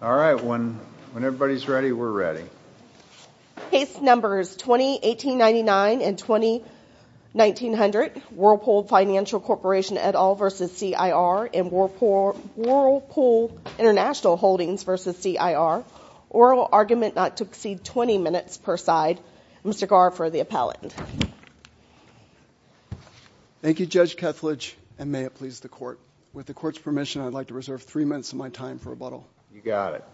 All right, when everybody's ready, we're ready. Case numbers 2018-99 and 2019-00 Whirlpool Financial Corporation et al v. CIR and Whirlpool International Holdings v. CIR. Oral argument not to exceed 20 minutes per side. Mr. Gar for the appellant. Thank you Judge Kethledge and may it please the court. With the court's permission I'd like to reserve three minutes of my time for rebuttal. You got it.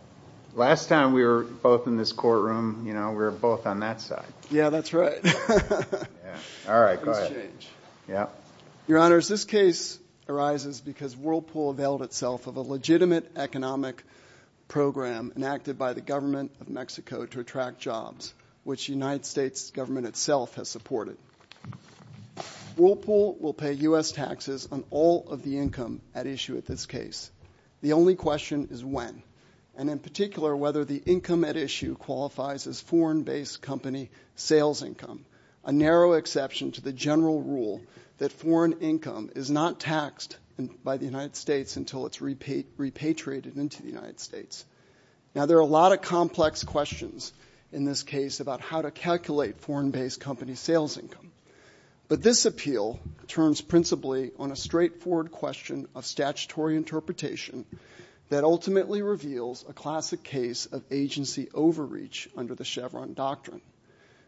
Last time we were both in this courtroom, you know, we were both on that side. Yeah, that's right. All right, yeah. Your honors, this case arises because Whirlpool availed itself of a legitimate economic program enacted by the government of Mexico to attract jobs, which the United States government itself has supported. Whirlpool will pay U.S. taxes on all of the income at issue at this case. The only question is when, and in particular whether the income at issue qualifies as foreign-based company sales income, a narrow exception to the general rule that foreign income is not taxed by the United States until it's repatriated into the United States. Now there are a lot of complex questions in this case about how to calculate foreign-based company sales income, but this appeal turns principally on a straightforward question of statutory interpretation that ultimately reveals a classic case of agency overreach under the Chevron doctrine.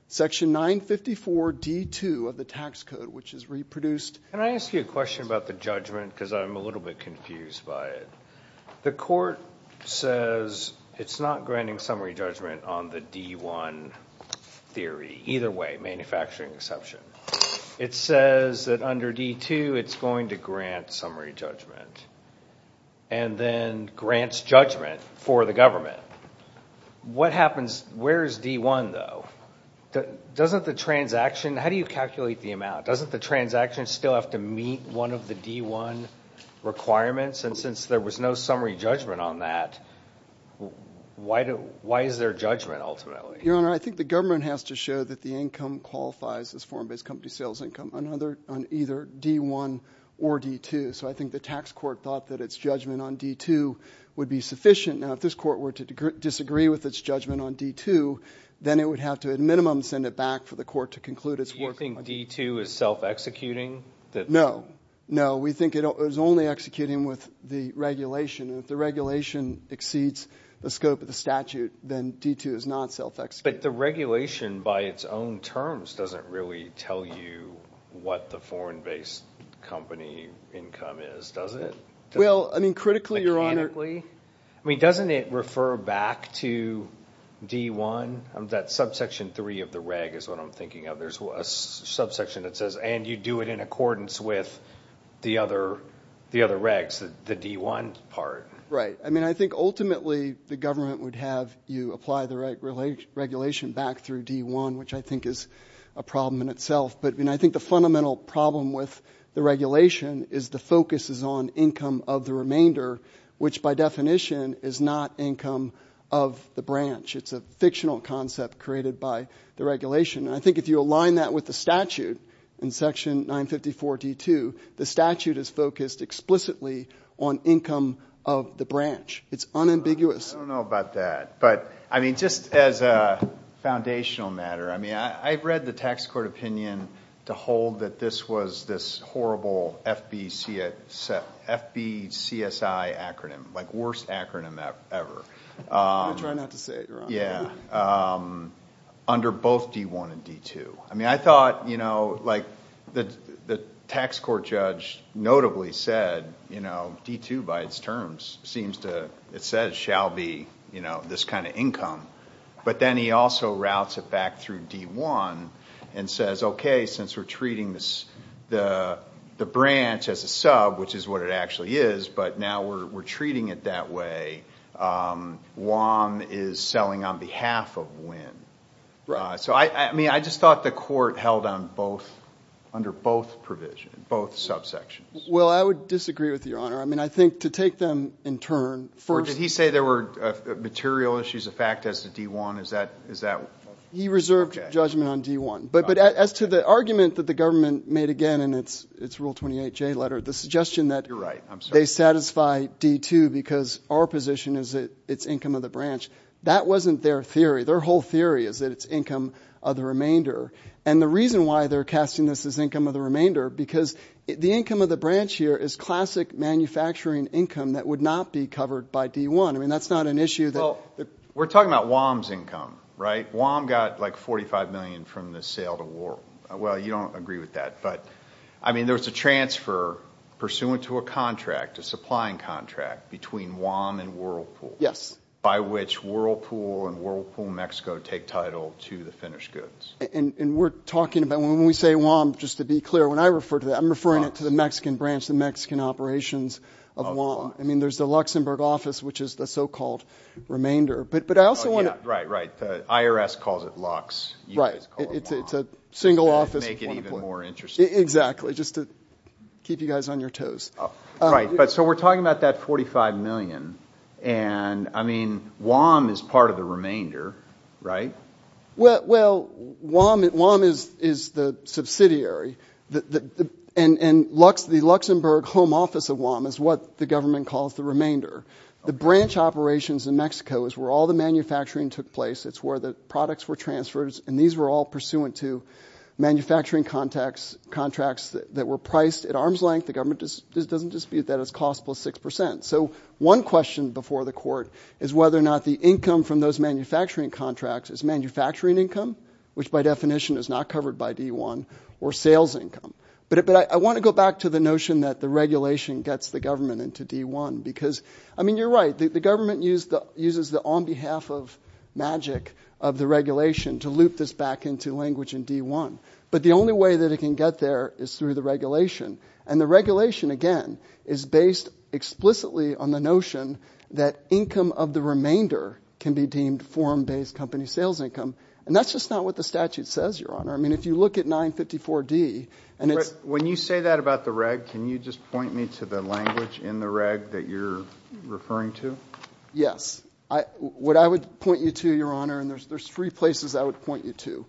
Section 954 D2 of the tax code, which is reproduced... Can I ask you a question about the judgment because I'm a little bit confused by it. The court says it's not granting summary judgment on the D1 theory. Either way, manufacturing exception. It says that under D2 it's going to grant summary judgment and then grants judgment for the government. What happens... Where is D1 though? Doesn't the transaction... How do you calculate the amount? Doesn't the transaction still have to meet one of the D1 requirements? And since there was no summary judgment on that, why is there judgment ultimately? Your Honor, I think the government has to show that the income qualifies as foreign-based company sales income on either D1 or D2. So I think the tax court thought that its judgment on D2 would be sufficient. Now if this court were to disagree with its judgment on D2, then it would have to at minimum send it back for the court to conclude it's working... Do you think D2 is self-executing? No. No. We think it was only executing with the regulation exceeds the scope of the statute, then D2 is not self-executing. But the regulation by its own terms doesn't really tell you what the foreign-based company income is, does it? Well, I mean, critically... Mechanically? I mean, doesn't it refer back to D1? That subsection 3 of the reg is what I'm thinking of. There's a subsection that says, and you do it in accordance with the other regs, the D1 part. Right. I mean, I think ultimately the government would have you apply the regulation back through D1, which I think is a problem in itself. But I mean, I think the fundamental problem with the regulation is the focus is on income of the remainder, which by definition is not income of the branch. It's a fictional concept created by the regulation. I think if you align that with the statute in section 954 D2, the statute is focused explicitly on income of the branch. It's unambiguous. I don't know about that, but I mean, just as a foundational matter, I mean, I've read the tax court opinion to hold that this was this horrible FBCI acronym, like worst acronym ever. I try not to say it wrong. Yeah. Under both D1 and D2. I mean, I thought, you know, like the tax court judge notably said, you know, D2 by its terms seems to, it says, shall be, you know, this kind of income. But then he also routes it back through D1 and says, okay, since we're treating this, the branch as a sub, which is what it actually is, but now we're treating it that way, one is selling on behalf of when. So, I mean, I just thought the court held on both, under both provisions, both subsections. Well, I would disagree with your honor. I mean, I think to take them in turn. Did he say there were material issues of fact as to D1? He reserved judgment on D1, but as to the argument that the government made again in its rule 28J letter, the suggestion that they satisfy D2 because our position is that it's income of the branch, that wasn't their theory. Their whole theory is that it's they're casting this as income of the remainder because the income of the branch here is classic manufacturing income that would not be covered by D1. I mean, that's not an issue. Well, we're talking about WOM's income, right? WOM got like 45 million from the sale to Whirlpool. Well, you don't agree with that, but I mean, there was a transfer pursuant to a contract, a supplying contract between WOM and Whirlpool. Yes. By which Whirlpool and Whirlpool Mexico take title to the finished goods. And we're talking about, when we say WOM, just to be clear, when I refer to that, I'm referring it to the Mexican branch, the Mexican operations of WOM. I mean, there's the Luxembourg office, which is the so-called remainder. But I also want to... Right, right. The IRS calls it Lux. Right. It's a single office. To make it even more interesting. Exactly. Just to keep you guys on your toes. Right, but so we're talking about that 45 million, and I mean, WOM is part of the subsidiary, and the Luxembourg home office of WOM is what the government calls the remainder. The branch operations in Mexico is where all the manufacturing took place. It's where the products were transferred, and these were all pursuant to manufacturing contracts that were priced at arm's length. The government just doesn't dispute that as cost plus six percent. So one question before the court is whether or not the income from those which by definition is not covered by D1, or sales income. But I want to go back to the notion that the regulation gets the government into D1. Because, I mean, you're right. The government uses the on behalf of magic of the regulation to loop this back into language in D1. But the only way that it can get there is through the regulation. And the regulation, again, is based explicitly on the notion that income of the remainder can be deemed form-based company sales income. And that's just not what the statute says, Your Honor. I mean, if you look at 954D, and it's... When you say that about the reg, can you just point me to the language in the reg that you're referring to? Yes. What I would point you to, Your Honor, and there's three places I would point you to,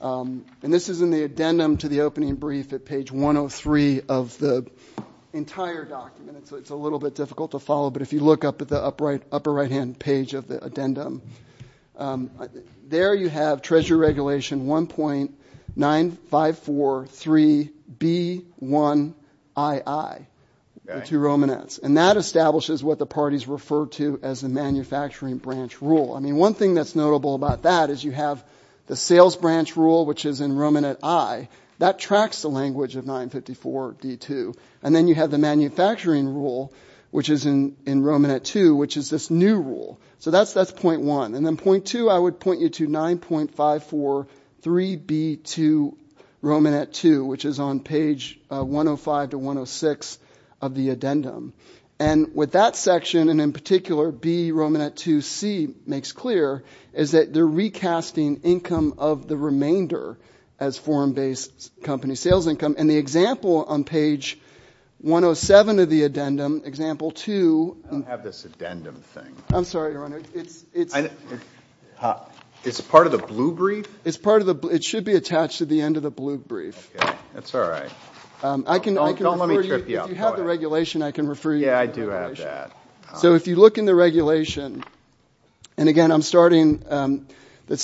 and this is in the addendum to the opening brief at page 103 of the entire document. It's a little bit difficult to follow, but if you look up at the upper right-hand page of the addendum, there you have Treasury Regulation 1.9543B1II, the two Romanets. And that establishes what the parties refer to as the manufacturing branch rule. I mean, one thing that's notable about that is you have the sales branch rule, which is in Romanet I. That tracks the language of 954D2. And then you have the manufacturing rule, which is in Romanet II, which is this new rule. So that's that's point one. And then point two, I would point you to 9.543B2 Romanet II, which is on page 105 to 106 of the addendum. And with that section, and in particular B Romanet II C makes clear, is that they're recasting income of the remainder as foreign-based company sales income. And the example on page 107 of the addendum, example two... I have this addendum thing. I'm sorry, Your Honor. It's part of the blue brief? It's part of the blue... it should be attached to the end of the blue brief. That's all right. Don't let me trip you up. If you have the regulation, I can refer you to the regulation. Yeah, I do have that. So if you look in the regulation, and again I'm starting the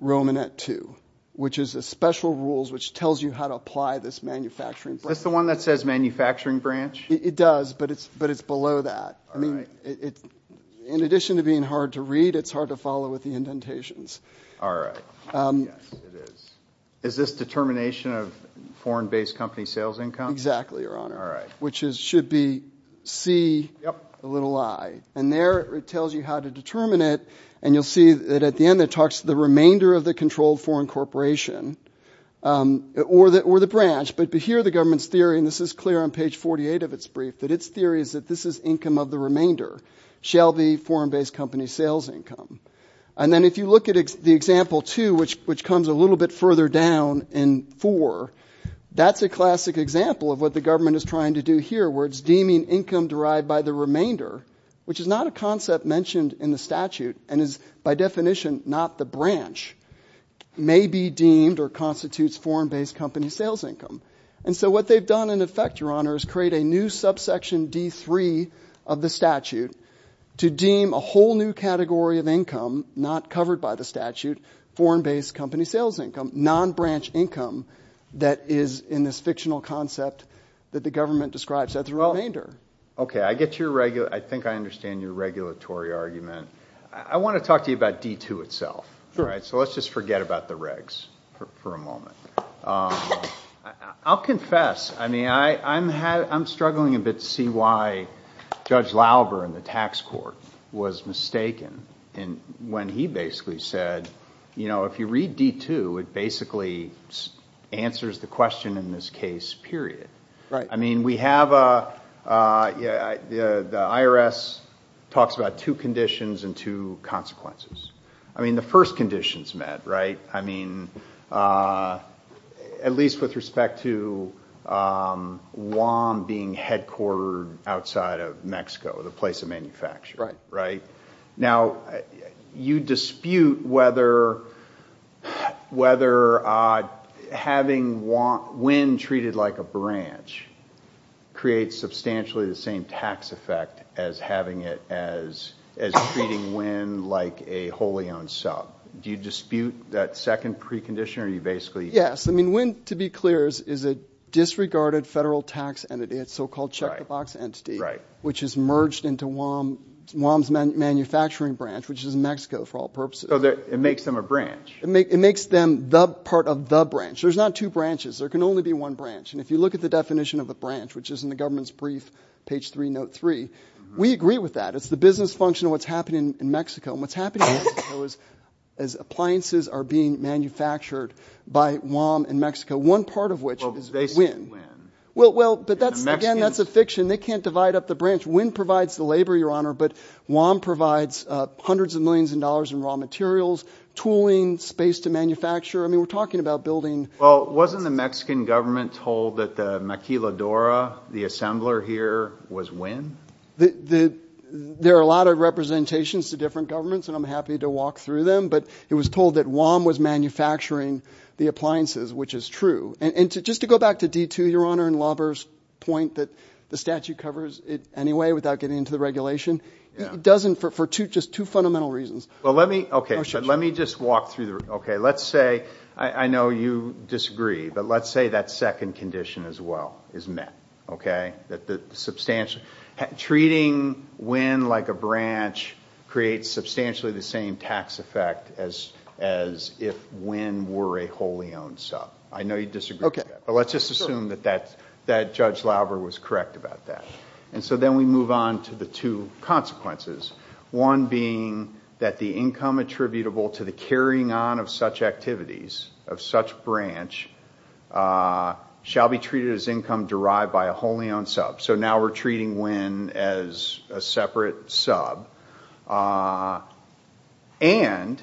Romanet II, which is a special rules which tells you how to apply this manufacturing... Is this the one that says manufacturing branch? It does, but it's but it's below that. I mean, in addition to being hard to read, it's hard to follow with the indentations. All right. Is this determination of foreign-based company sales income? Exactly, Your Honor. All right. Which should be C, the little I. And there it tells you how to determine it, and you'll see that at the end it talks to the remainder of the controlled foreign corporation or the branch, but here the government's theory, and this is clear on page 48 of its brief, that its theory is that this is income of the remainder, shall be foreign-based company sales income. And then if you look at the example two, which comes a little bit further down in four, that's a classic example of what the government is trying to do here, where it's deeming income derived by the remainder, which is not a concept mentioned in the statute, and is by definition not the branch, may be deemed or constitutes foreign-based company sales income. And so what they've done in effect, Your Honor, is create a new subsection D3 of the statute to deem a whole new category of income not covered by the statute, foreign-based company sales income, non-branch income, that is in this fictional concept that the government describes as the remainder. Okay, I get your regular... I think I get your regulatory argument. I want to talk to you about D2 itself, right? So let's just forget about the regs for a moment. I'll confess, I mean, I'm struggling a bit to see why Judge Lauber in the tax court was mistaken when he basically said, you know, if you read D2, it basically answers the question in this case, period. I mean, we have a... the IRS talks about two conditions and two consequences. I mean, the first condition's met, right? I mean, at least with respect to WAM being headquartered outside of Mexico, the place of manufacture, right? Now, you dispute whether having WIN treated like a branch creates substantially the same tax effect as having it as... as treating WIN like a wholly owned sub. Do you dispute that second precondition, or you basically... Yes, I mean, WIN, to be clear, is a disregarded federal tax entity, a so-called check-the-box entity, which is merged into WAM's manufacturing branch, which is in Mexico, for all purposes. So it makes them a branch? It makes them the part of the branch. There's not two branches. There can only be one branch, and if you look at the definition of the branch, which is in the government's brief, page 3, note 3, we agree with that. It's the business function of what's happening in Mexico, and what's happening in Mexico is, as appliances are being manufactured by WAM in Mexico, one part of which is WIN. Well, but that's, again, that's a fiction. They can't divide up the branch. WIN provides the labor, Your Honor, but WAM provides hundreds of millions of dollars in raw materials, tooling, space to manufacture. I mean, we're talking about building... Well, wasn't the Mexican government told that the Maquiladora, the assembler here, was WIN? There are a lot of representations to different governments, and I'm happy to walk through them, but it was told that WAM was manufacturing the appliances, which is true. And just to go back to D2, Your Honor, I don't think that the statute covers it anyway without getting into the regulation. It doesn't for two, just two fundamental reasons. Well, let me, okay, let me just walk through the, okay, let's say, I know you disagree, but let's say that second condition as well is met, okay? That the substantial, treating WIN like a branch creates substantially the same tax effect as if WIN were a wholly owned sub. I know you disagree, but let's just assume that that Judge Lauber was correct about that. And so then we move on to the two consequences, one being that the income attributable to the carrying on of such activities, of such branch, shall be treated as income derived by a wholly owned sub. So now we're treating WIN as a separate sub and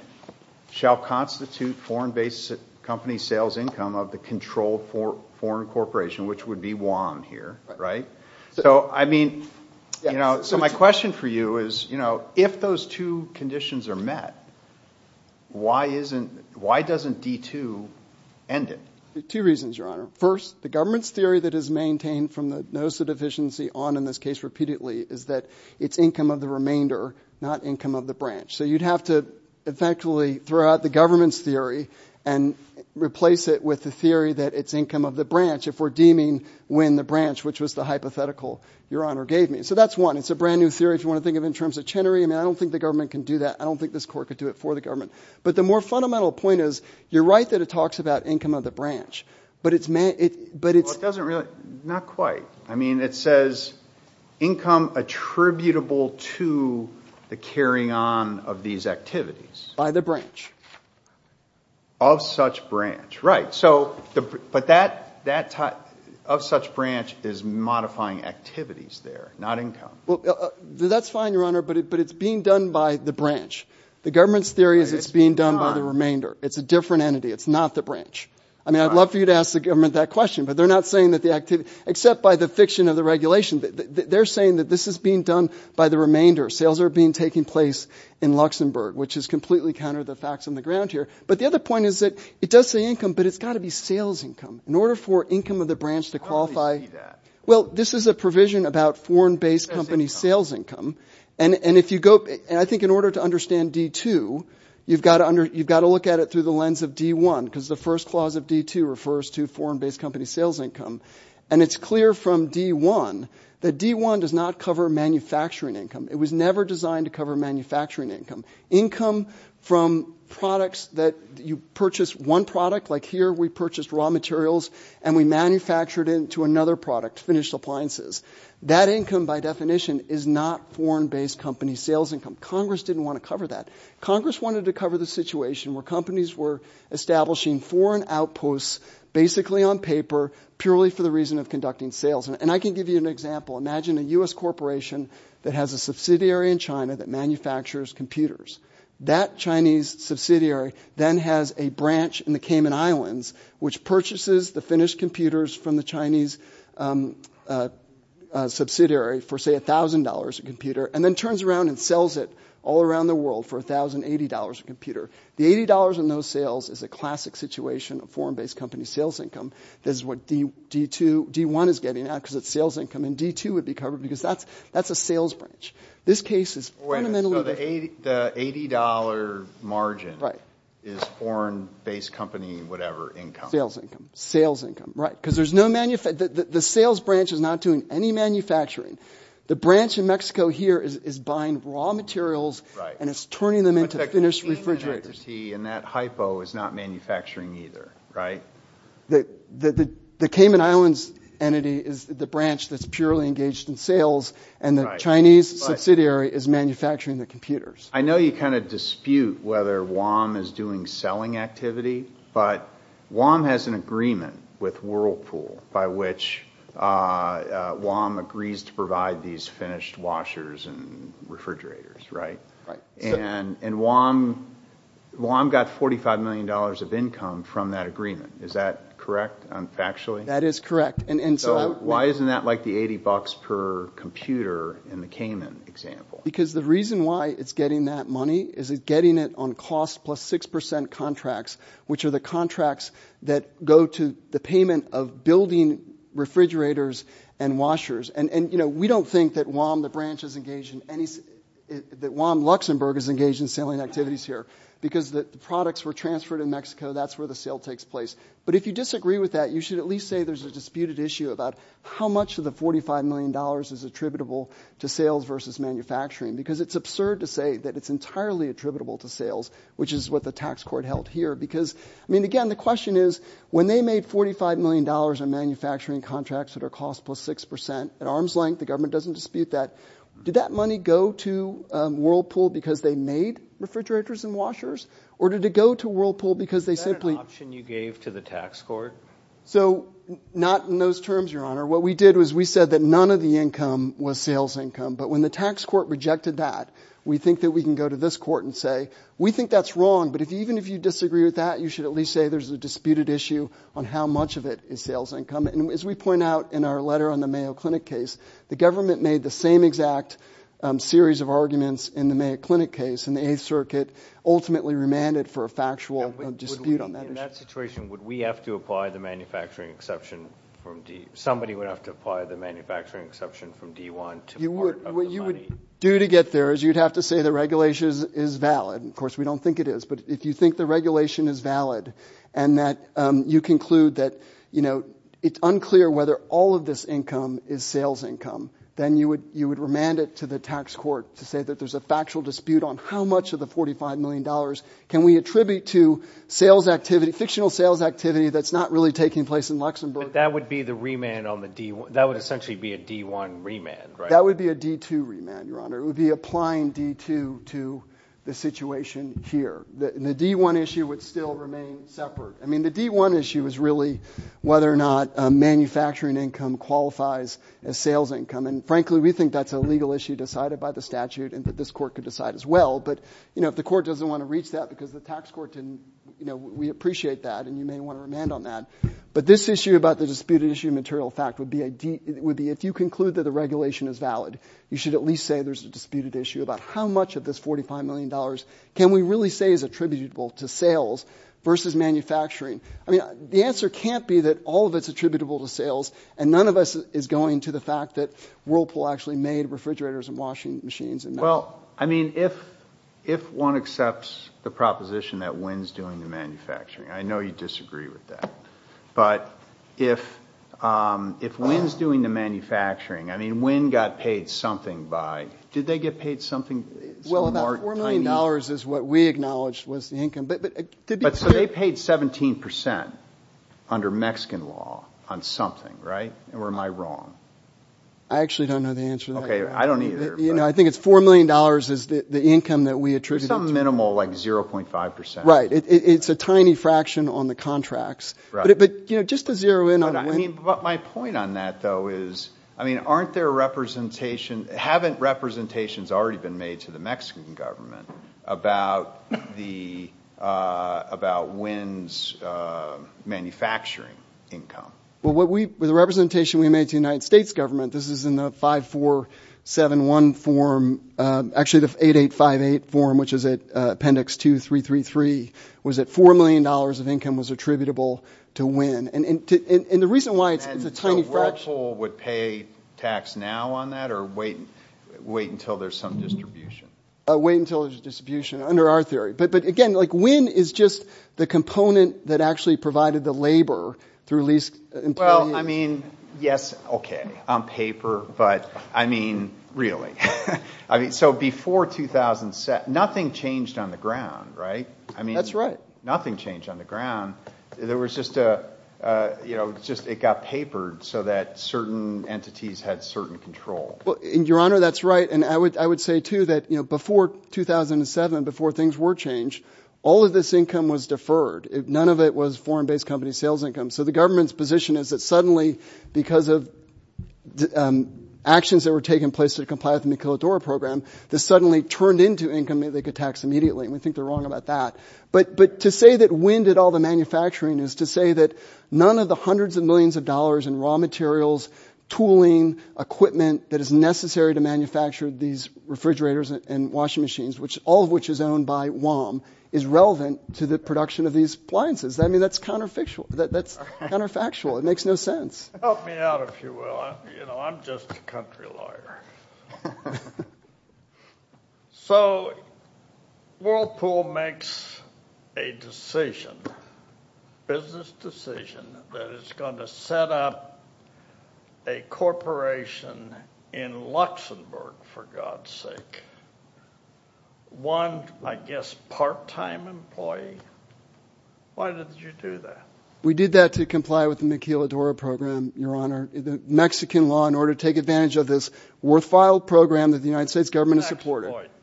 shall constitute foreign-based company sales income of the controlled foreign corporation, which would be WAN here, right? So I mean, you know, so my question for you is, you know, if those two conditions are met, why isn't, why doesn't D2 end it? Two reasons, Your Honor. First, the government's theory that is maintained from the notice of deficiency on in this case repeatedly is that it's income of the remainder, not income of the branch. So you'd have to effectively throw out the government's theory and replace it with the theory that it's income of the branch if we're deeming WIN the branch, which was the hypothetical Your Honor gave me. So that's one. It's a brand new theory if you want to think of in terms of Chenery. I mean, I don't think the government can do that. I don't think this Court could do it for the government. But the more fundamental point is, you're right that it talks about income of the branch, but it's meant, it, but it doesn't really, not quite. I mean, it says income attributable to the carrying on of these activities by the branch. Of such branch, right. So, but that, that type of such branch is modifying activities there, not income. Well, that's fine, Your Honor, but it, but it's being done by the branch. The government's theory is it's being done by the remainder. It's a different entity. It's not the branch. I mean, I'd love for you to ask the government that question, but they're not saying that the activity, except by the fiction of the regulation, they're saying that this is being done by the remainder. Sales are being, taking place in Luxembourg, which is completely counter the facts on the ground here. But the other point is that it does say income, but it's got to be sales income. In order for income of the branch to qualify, well, this is a provision about foreign-based company sales income. And, and if you go, and I think in order to understand D2, you've got to under, you've got to look at it through the lens of D1, because the first clause of D2 refers to foreign-based company sales income. And it's clear from D1 that D1 does not cover manufacturing income. It was never designed to cover manufacturing income. Income from products that you purchase one product, like here we purchased raw materials and we manufactured into another product, finished appliances. That income by definition is not foreign-based company sales income. Congress didn't want to cover that. Congress wanted to cover the situation where companies were establishing foreign outposts, basically on paper, purely for the reason of that has a subsidiary in China that manufactures computers. That Chinese subsidiary then has a branch in the Cayman Islands, which purchases the finished computers from the Chinese subsidiary for, say, $1,000 a computer, and then turns around and sells it all around the world for $1,080 a computer. The $80 in those sales is a classic situation of foreign-based company sales income. This is what D2, D1 is getting out because it's sales income. And D2 would be covered because that's a sales branch. This case is fundamentally different. Wait a minute. So the $80 margin is foreign-based company whatever income? Sales income. Sales income, right. Because there's no manufacturing. The sales branch is not doing any manufacturing. The branch in Mexico here is buying raw materials, and it's turning them into finished refrigerators. But that company entity in that hypo is not manufacturing either, right? The Cayman Islands entity is the branch that's purely engaged in sales, and the Chinese subsidiary is manufacturing the computers. I know you kind of dispute whether WOM is doing selling activity, but WOM has an agreement with Whirlpool by which WOM agrees to provide these finished washers and refrigerators, right? And WOM got $45 million of income from that agreement. Is that correct? Factually? That is correct. And so why isn't that like the $80 per computer in the Cayman example? Because the reason why it's getting that money is it's getting it on cost plus 6% contracts, which are the contracts that go to the payment of building refrigerators and washers. And, you know, we don't think that WOM, the branch is engaged in any, that WOM Luxembourg is engaged in selling activities here. Because the products were transferred in Mexico, that's where the sale takes place. But if you disagree with that, you should at least say there's a disputed issue about how much of the $45 million is attributable to sales versus manufacturing. Because it's absurd to say that it's entirely attributable to sales, which is what the tax court held here. Because, I mean, again, the question is, when they made $45 million in manufacturing contracts that are cost plus 6%, at arm's length the government doesn't dispute that, did that money go to Whirlpool because they made refrigerators and washers? Or did it go to Whirlpool because they simply... Is that an option you gave to the tax court? So, not in those terms, your honor. What we did was we said that none of the income was sales income. But when the tax court rejected that, we think that we can go to this court and say, we think that's wrong. But if even if you disagree with that, you should at least say there's a disputed issue on how much of it is sales income. And as we point out in our letter on the Mayo Clinic case, the government made the same exact series of arguments in the Mayo Clinic case, and the Eighth Circuit ultimately remanded for a factual dispute on that issue. In that situation, would we have to apply the manufacturing exception from D... Somebody would have to apply the manufacturing exception from D1 to part of the money? What you would do to get there is you'd have to say the regulation is valid. Of course, we don't think it is. But if you think the regulation is valid, and that you conclude that, you know, it's unclear whether all of this income is sales income, then you would remand it to the tax court to say that there's a factual dispute on how much of the $45 million can we attribute to sales activity, fictional sales activity, that's not really taking place in Luxembourg. That would be the remand on the D... That would essentially be a D1 remand, right? That would be a D2 remand, Your Honor. It would be applying D2 to the situation here. The D1 issue would still remain separate. I mean, the D1 issue is really whether or not manufacturing income qualifies as sales income. And frankly, we think that's a legal issue decided by the statute and that this court could decide as well. But, you know, if the court doesn't want to reach that because the tax court didn't, you know, we appreciate that and you may want to remand on that. But this issue about the disputed issue material fact would be a D... It would be if you conclude that the regulation is valid, you should at least say there's a disputed issue about how much of this $45 million can we really say is attributable to sales versus manufacturing? I mean, the answer can't be that all of it's attributable to sales. And none of us is going to the fact that Whirlpool actually made refrigerators and washing machines and... Well, I mean, if one accepts the proposition that Wynne's doing the manufacturing, I know you disagree with that. But if Wynne's doing the manufacturing, I mean, Wynne got paid something by... Did they get paid something? Well, about $4 million is what we acknowledged was the income. But... But so they paid 17% under Mexican law on something, right? Or am I wrong? I actually don't know the answer to that. Okay, I don't either. You know, I think it's $4 million is the income that we attributed to... It's a minimal, like 0.5%. Right. It's a tiny fraction on the contracts. But, you know, just to zero in on... But my point on that, though, is, I mean, aren't there representation... Haven't representations already been made to the Mexican government about the... About Wynne's manufacturing income? Well, what we... The representation we made to the United States government, this is in the 5471 form, actually the 8858 form, which is at appendix 2333, was that $4 million of income was attributable to Wynne. And the reason why it's a tiny fraction... And so Whirlpool would pay tax now on that or wait until there's some distribution? Wait until there's a distribution under our theory. But again, like Wynne is just the component that actually provided the labor through leased employment. Well, I mean, yes, okay, on paper, but I mean, really? I mean, so before 2007, nothing changed on the ground, right? I mean... That's right. Nothing changed on the ground. There was just a, you know, just it got papered so that certain entities had certain control. Well, Your Honor, that's right. And I would say too that, you know, before 2007, before things were changed, all of this income was deferred. None of it was foreign-based company sales income. So the government's position is that suddenly because of actions that were taking place to comply with the Miquiladora program, this suddenly turned into income that they could tax immediately. And we think they're wrong about that. But to say that Wynne did all the manufacturing is to say that none of the hundreds of millions of dollars in raw materials, tooling, equipment that is necessary to manufacture these refrigerators and washing machines, which all of which is owned by WOM, is relevant to the production of these appliances. I mean, that's counterfactual. That's counterfactual. It makes no sense. Help me out, if you will. You know, I'm just a country lawyer. So Whirlpool makes a decision, business decision, that it's going to set up a corporation in Luxembourg, for God's sake. One, I guess, part-time employee? Why did you do that? We did that to comply with the Miquiladora program, Your Honor. The Mexican law in order to take advantage of this worthwhile program that the United States government has supported. Tax avoidance.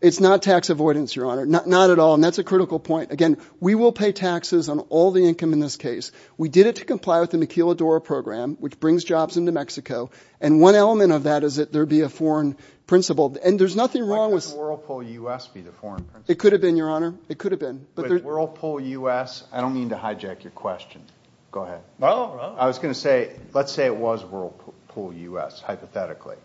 It's not tax avoidance, Your Honor. Not at all. And that's a critical point. Again, we will pay taxes on all the income in this case. We did it to comply with the Miquiladora program, which brings jobs into Mexico. And one element of that is that there would be a foreign principal. And there's nothing wrong with... Why couldn't Whirlpool U.S. be the foreign principal? It could have been, Your Honor. It could have been. But Whirlpool U.S.? I don't mean to hijack your question. Go ahead. Well... I was going to say, let's say it was Whirlpool U.S., hypothetically.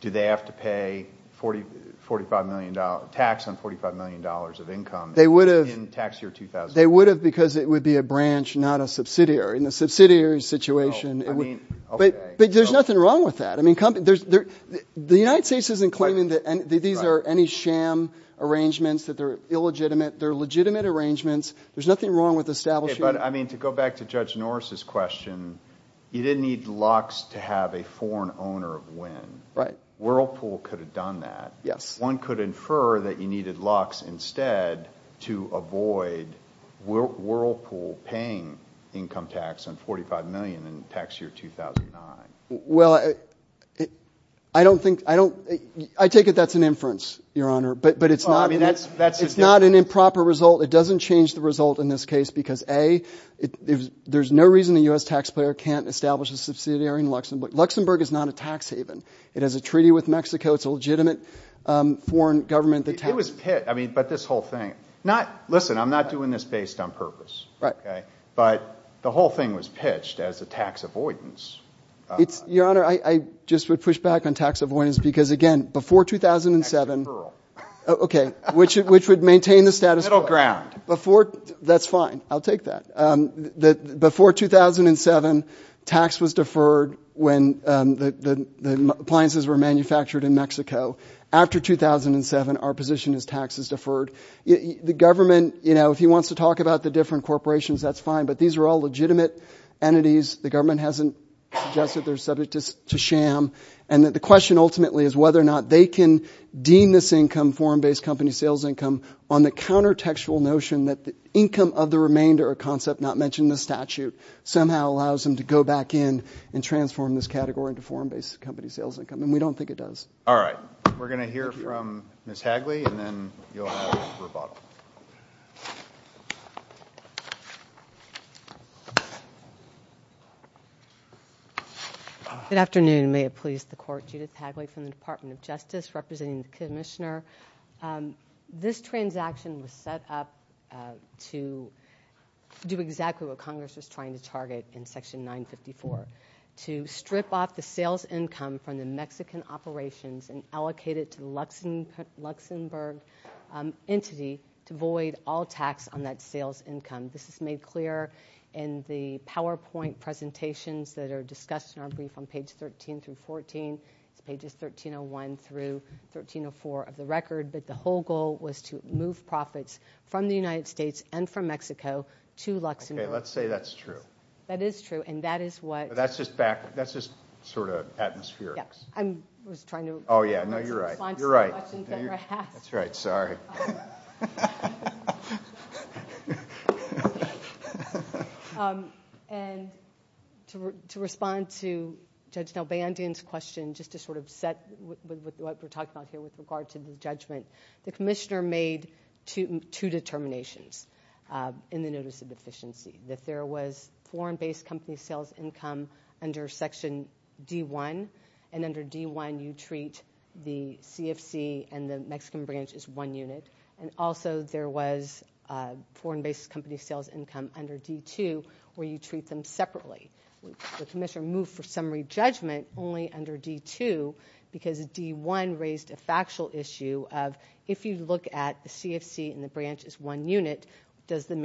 Do they have to pay tax on $45 million of income... They would have... ...in tax year 2000? They would have because it would be a branch, not a subsidiary. In a subsidiary situation... Well, I mean... But there's nothing wrong with that. I mean, the United States isn't claiming that these are any sham arrangements, that they're illegitimate. They're legitimate arrangements. There's nothing wrong with establishing... But, I mean, to go back to Judge Norris's question, you didn't need Lux to have a foreign owner of wind. Whirlpool could have done that. Yes. But one could infer that you needed Lux instead to avoid Whirlpool paying income tax on $45 million in tax year 2009. Well, I don't think... I take it that's an inference, Your Honor. But it's not... I mean, that's... It's not an improper result. It doesn't change the result in this case because, A, there's no reason a U.S. taxpayer can't establish a subsidiary in Luxembourg. Luxembourg is not a tax haven. It has a treaty with Mexico. It's a legitimate foreign government that taxes... It was pitched... I mean, but this whole thing... Not... Listen, I'm not doing this based on purpose. Right. Okay? But the whole thing was pitched as a tax avoidance. Your Honor, I just would push back on tax avoidance because, again, before 2007... Tax deferral. Okay. Which would maintain the status quo. Middle ground. That's fine. I'll take that. Before 2007, tax was deferred when the appliances were manufactured in Mexico. After 2007, our position is tax is deferred. The government, you know, if he wants to talk about the different corporations, that's fine, but these are all legitimate entities. The government hasn't suggested they're subject to sham. And the question ultimately is whether or not they can deem this income, foreign-based company sales income, on the countertextual notion that the income of the remainder, a concept not mentioned in the statute, somehow allows them to go back in and transform this category into foreign-based company sales income. And we don't think it does. All right. We're going to hear from Ms. Hagley, and then you'll have a rebuttal. Good afternoon. May it please the Court. Judith Hagley from the Department of Justice, representing the Commissioner. This transaction was set up to do exactly what Congress was trying to target in Section 954, to strip off the sales income from the Mexican operations and allocate it to the Luxembourg entity to void all tax on that sales income. This is made clear in the PowerPoint presentations that are discussed in our brief on pages 13 and 1301 through 1304 of the record, that the whole goal was to move profits from the United States and from Mexico to Luxembourg. Okay. Let's say that's true. That is true, and that is what That's just back, that's just sort of atmospherics. I was trying to Oh, yeah, no, you're right. You're right. That's right. Sorry. And to respond to Judge Nelbandian's question, just to sort of set what we're talking about here with regard to the judgment, the Commissioner made two determinations in the notice of deficiency, that there was foreign-based company sales income under Section D1, and under D1 you treat the CFC and the Mexican branch as one unit, and also there was foreign-based company sales income under D2, where you treat them separately. The Commissioner moved for summary judgment only under D2, because D1 raised a factual issue of, if you look at the CFC and the branch as one unit, does the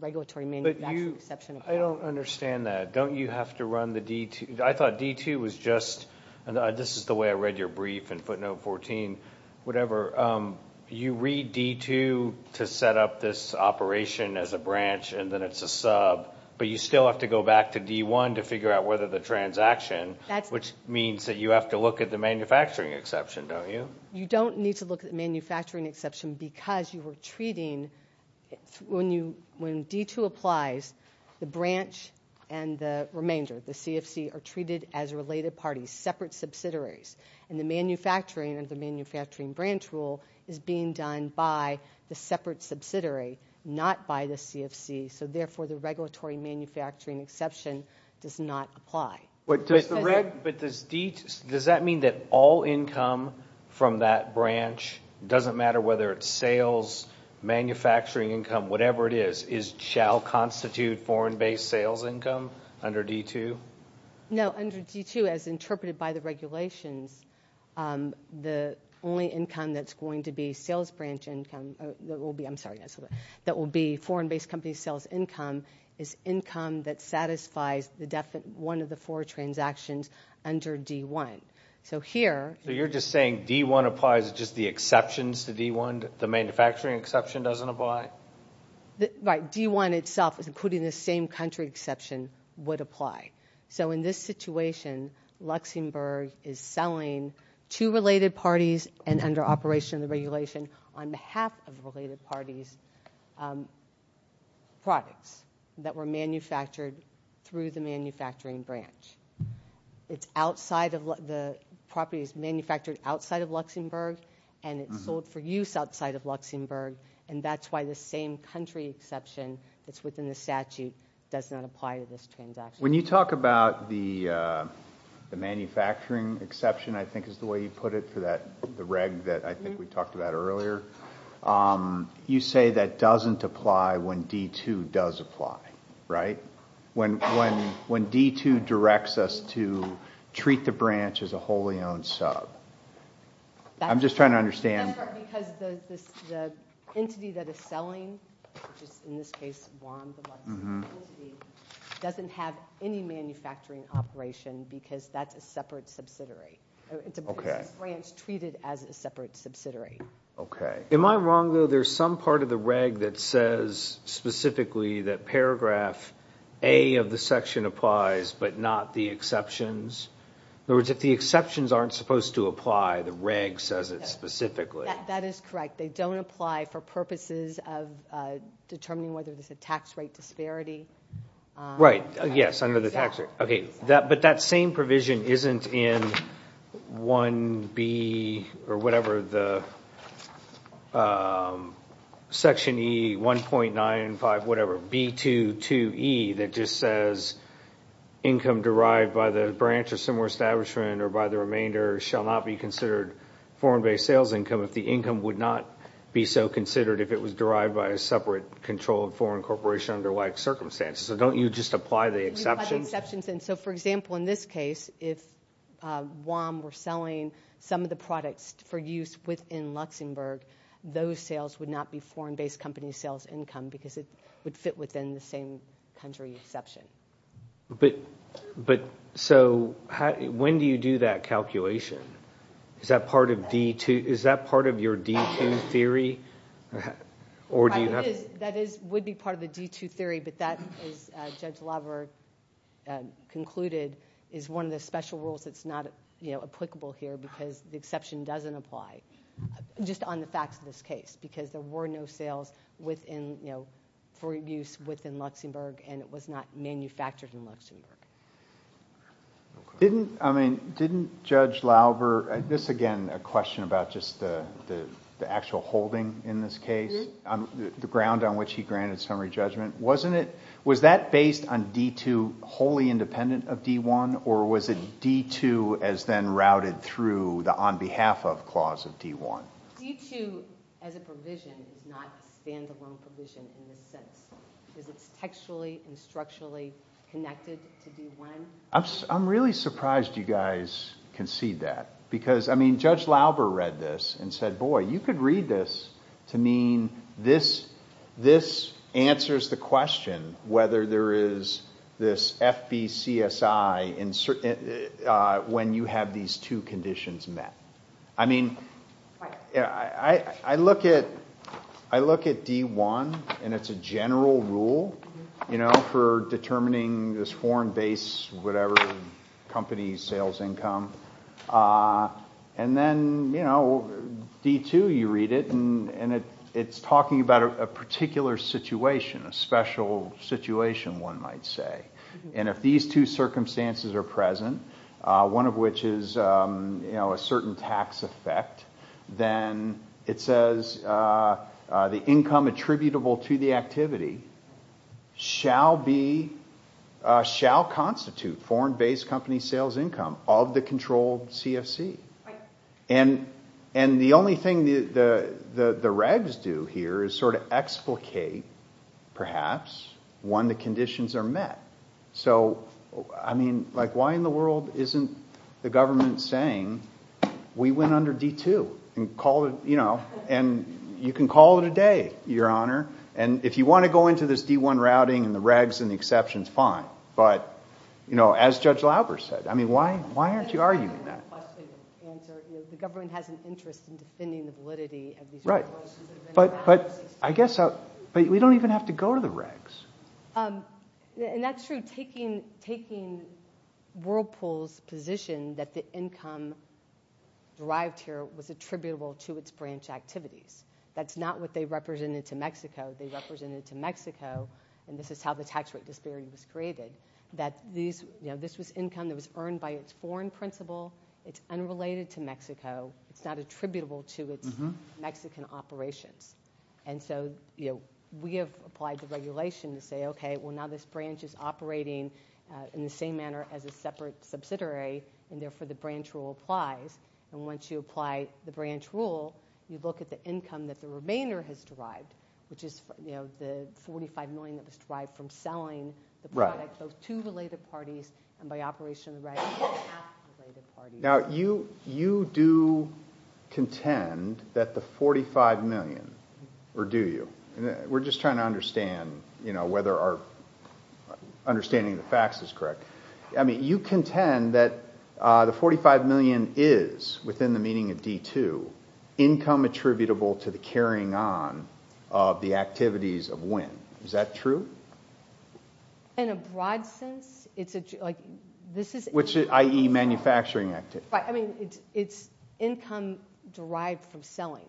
regulatory manufacturing exception apply? I don't understand that. Don't you have to run the D2? I thought D2 was just, and this is the way I read your brief in footnote 14, whatever, you read D2 to set up this operation as a branch and then it's a sub, but you still have to go back to D1 to figure out whether the transaction, which means that you have to look at the manufacturing exception, don't you? You don't need to look at the manufacturing exception, because you were treating, when D2 applies, the branch and the remainder, the CFC, are treated as related parties, separate subsidiaries, and the manufacturing of the manufacturing branch rule is being done by the separate subsidiary, not by the CFC, so therefore the regulatory manufacturing exception does not apply. But does that mean that all income from that branch, doesn't matter whether it's sales, manufacturing income, whatever it is, shall constitute foreign-based sales income under D2? No, under D2, as interpreted by the regulations, the only income that's going to be sales branch income, that will be, I'm sorry, that will be foreign-based company sales income, is income that satisfies one of the four transactions under D1. So here... So you're just saying D1 applies, just the exceptions to D1, the manufacturing exception doesn't apply? Right, D1 itself, including the same country exception, would apply. So in this situation, Luxembourg is selling to related parties, and under operation of the regulation, on behalf of related parties, products that were manufactured through the manufacturing branch. It's outside of, the property is manufactured outside of Luxembourg, and it's sold for use outside of Luxembourg, and that's why the same country exception that's within the statute does not apply to this transaction. When you talk about the manufacturing exception, I think is the way you put it, the reg that I think we talked about earlier, you say that doesn't apply when D2 does apply, right? When D2 directs us to treat the branch as a wholly owned sub. I'm just trying to understand... That's right, because the entity that is selling, which is in this case, one, the Luxembourg entity, doesn't have any manufacturing operation, because that's a separate subsidiary. It's a branch treated as a separate subsidiary. Okay, am I wrong though? There's some part of the reg that says specifically that paragraph A of the section applies, but not the exceptions. In other words, if the exceptions aren't supposed to apply, the reg says it specifically. That is correct. They don't apply for purposes of determining whether there's a tax rate disparity. Right, yes, under the tax rate. But that same provision isn't in 1B, or whatever the section E 1.95, whatever, B22E that just says income derived by the branch or similar establishment or by the remainder shall not be considered foreign-based sales income if the income would not be so considered if it was derived by a separate controlled foreign corporation under like circumstances. So don't you just apply the exceptions? Don't you apply the exceptions? So for example, in this case, if WOM were selling some of the products for use within Luxembourg, those sales would not be foreign-based company sales income because it would fit within the same country exception. But, so, when do you do that calculation? Is that part of your D2 theory? That would be part of the D2 theory, but that, as Judge Lauber concluded, is one of the special rules that's not applicable here because the exception doesn't apply just on the facts of this case because there were no sales for use within Luxembourg and it was not manufactured in Luxembourg. Didn't, I mean, didn't Judge Lauber, this again, a question about just the actual holding in this case, the ground on which he granted summary judgment, wasn't it, was that based on D2 wholly independent of D1 or was it D2 as then routed through the on behalf of clause of D1? D2 as a provision is not a standalone provision in this sense. It's textually and structurally connected to D1. I'm really surprised you guys concede that because, I mean, Judge Lauber read this and said, boy, you could read this to mean this answers the question whether there is this FBCSI when you have these two conditions met. I mean, I look at D1 and it's a general rule, you know, for determining this foreign base, whatever company's sales income. And then, you know, D2 you read it and it's talking about a particular situation, a special situation one might say. And if these two circumstances are present, one of which is, you know, a certain tax effect, then it says the income attributable to the activity shall constitute foreign base company sales income of the controlled CFC. And the only thing the regs do here is sort of explicate perhaps when the conditions are met. So, I mean, like why in the world isn't the government saying we went under D2 and call it, you know, and you can call it a day, your honor. And if you want to go into this D1 routing and the regs and the exceptions, fine. But, you know, as Judge Lauber said, I mean, why aren't you arguing that? Right. But I guess we don't even have to go to the regs. And that's true. Taking Whirlpool's position that the income derived here was attributable to its branch activities. That's not what they represented to Mexico. They represented to Mexico, and this is how the tax rate disparity was created, that this was income that was earned by its foreign principal. It's unrelated to Mexico. It's not attributable to its Mexican operations. And so, you know, we have applied the regulation to say, okay, well, now this branch is operating in the same manner as a separate subsidiary, and therefore the branch rule applies. And once you apply the branch rule, you look at the income that the remainder has derived, which is, you know, the $45 million that was derived from selling the product both to related parties and by operation of the regs and at related parties. Now, you do contend that the $45 million, or do you? We're just trying to understand, you know, whether our understanding of the facts is correct. I mean, you contend that the $45 million is, within the meaning of D2, income attributable to the carrying on of the activities of WIN. Is that true? In a broad sense, it's... Which, i.e., manufacturing activities? Right, I mean, it's income derived from selling.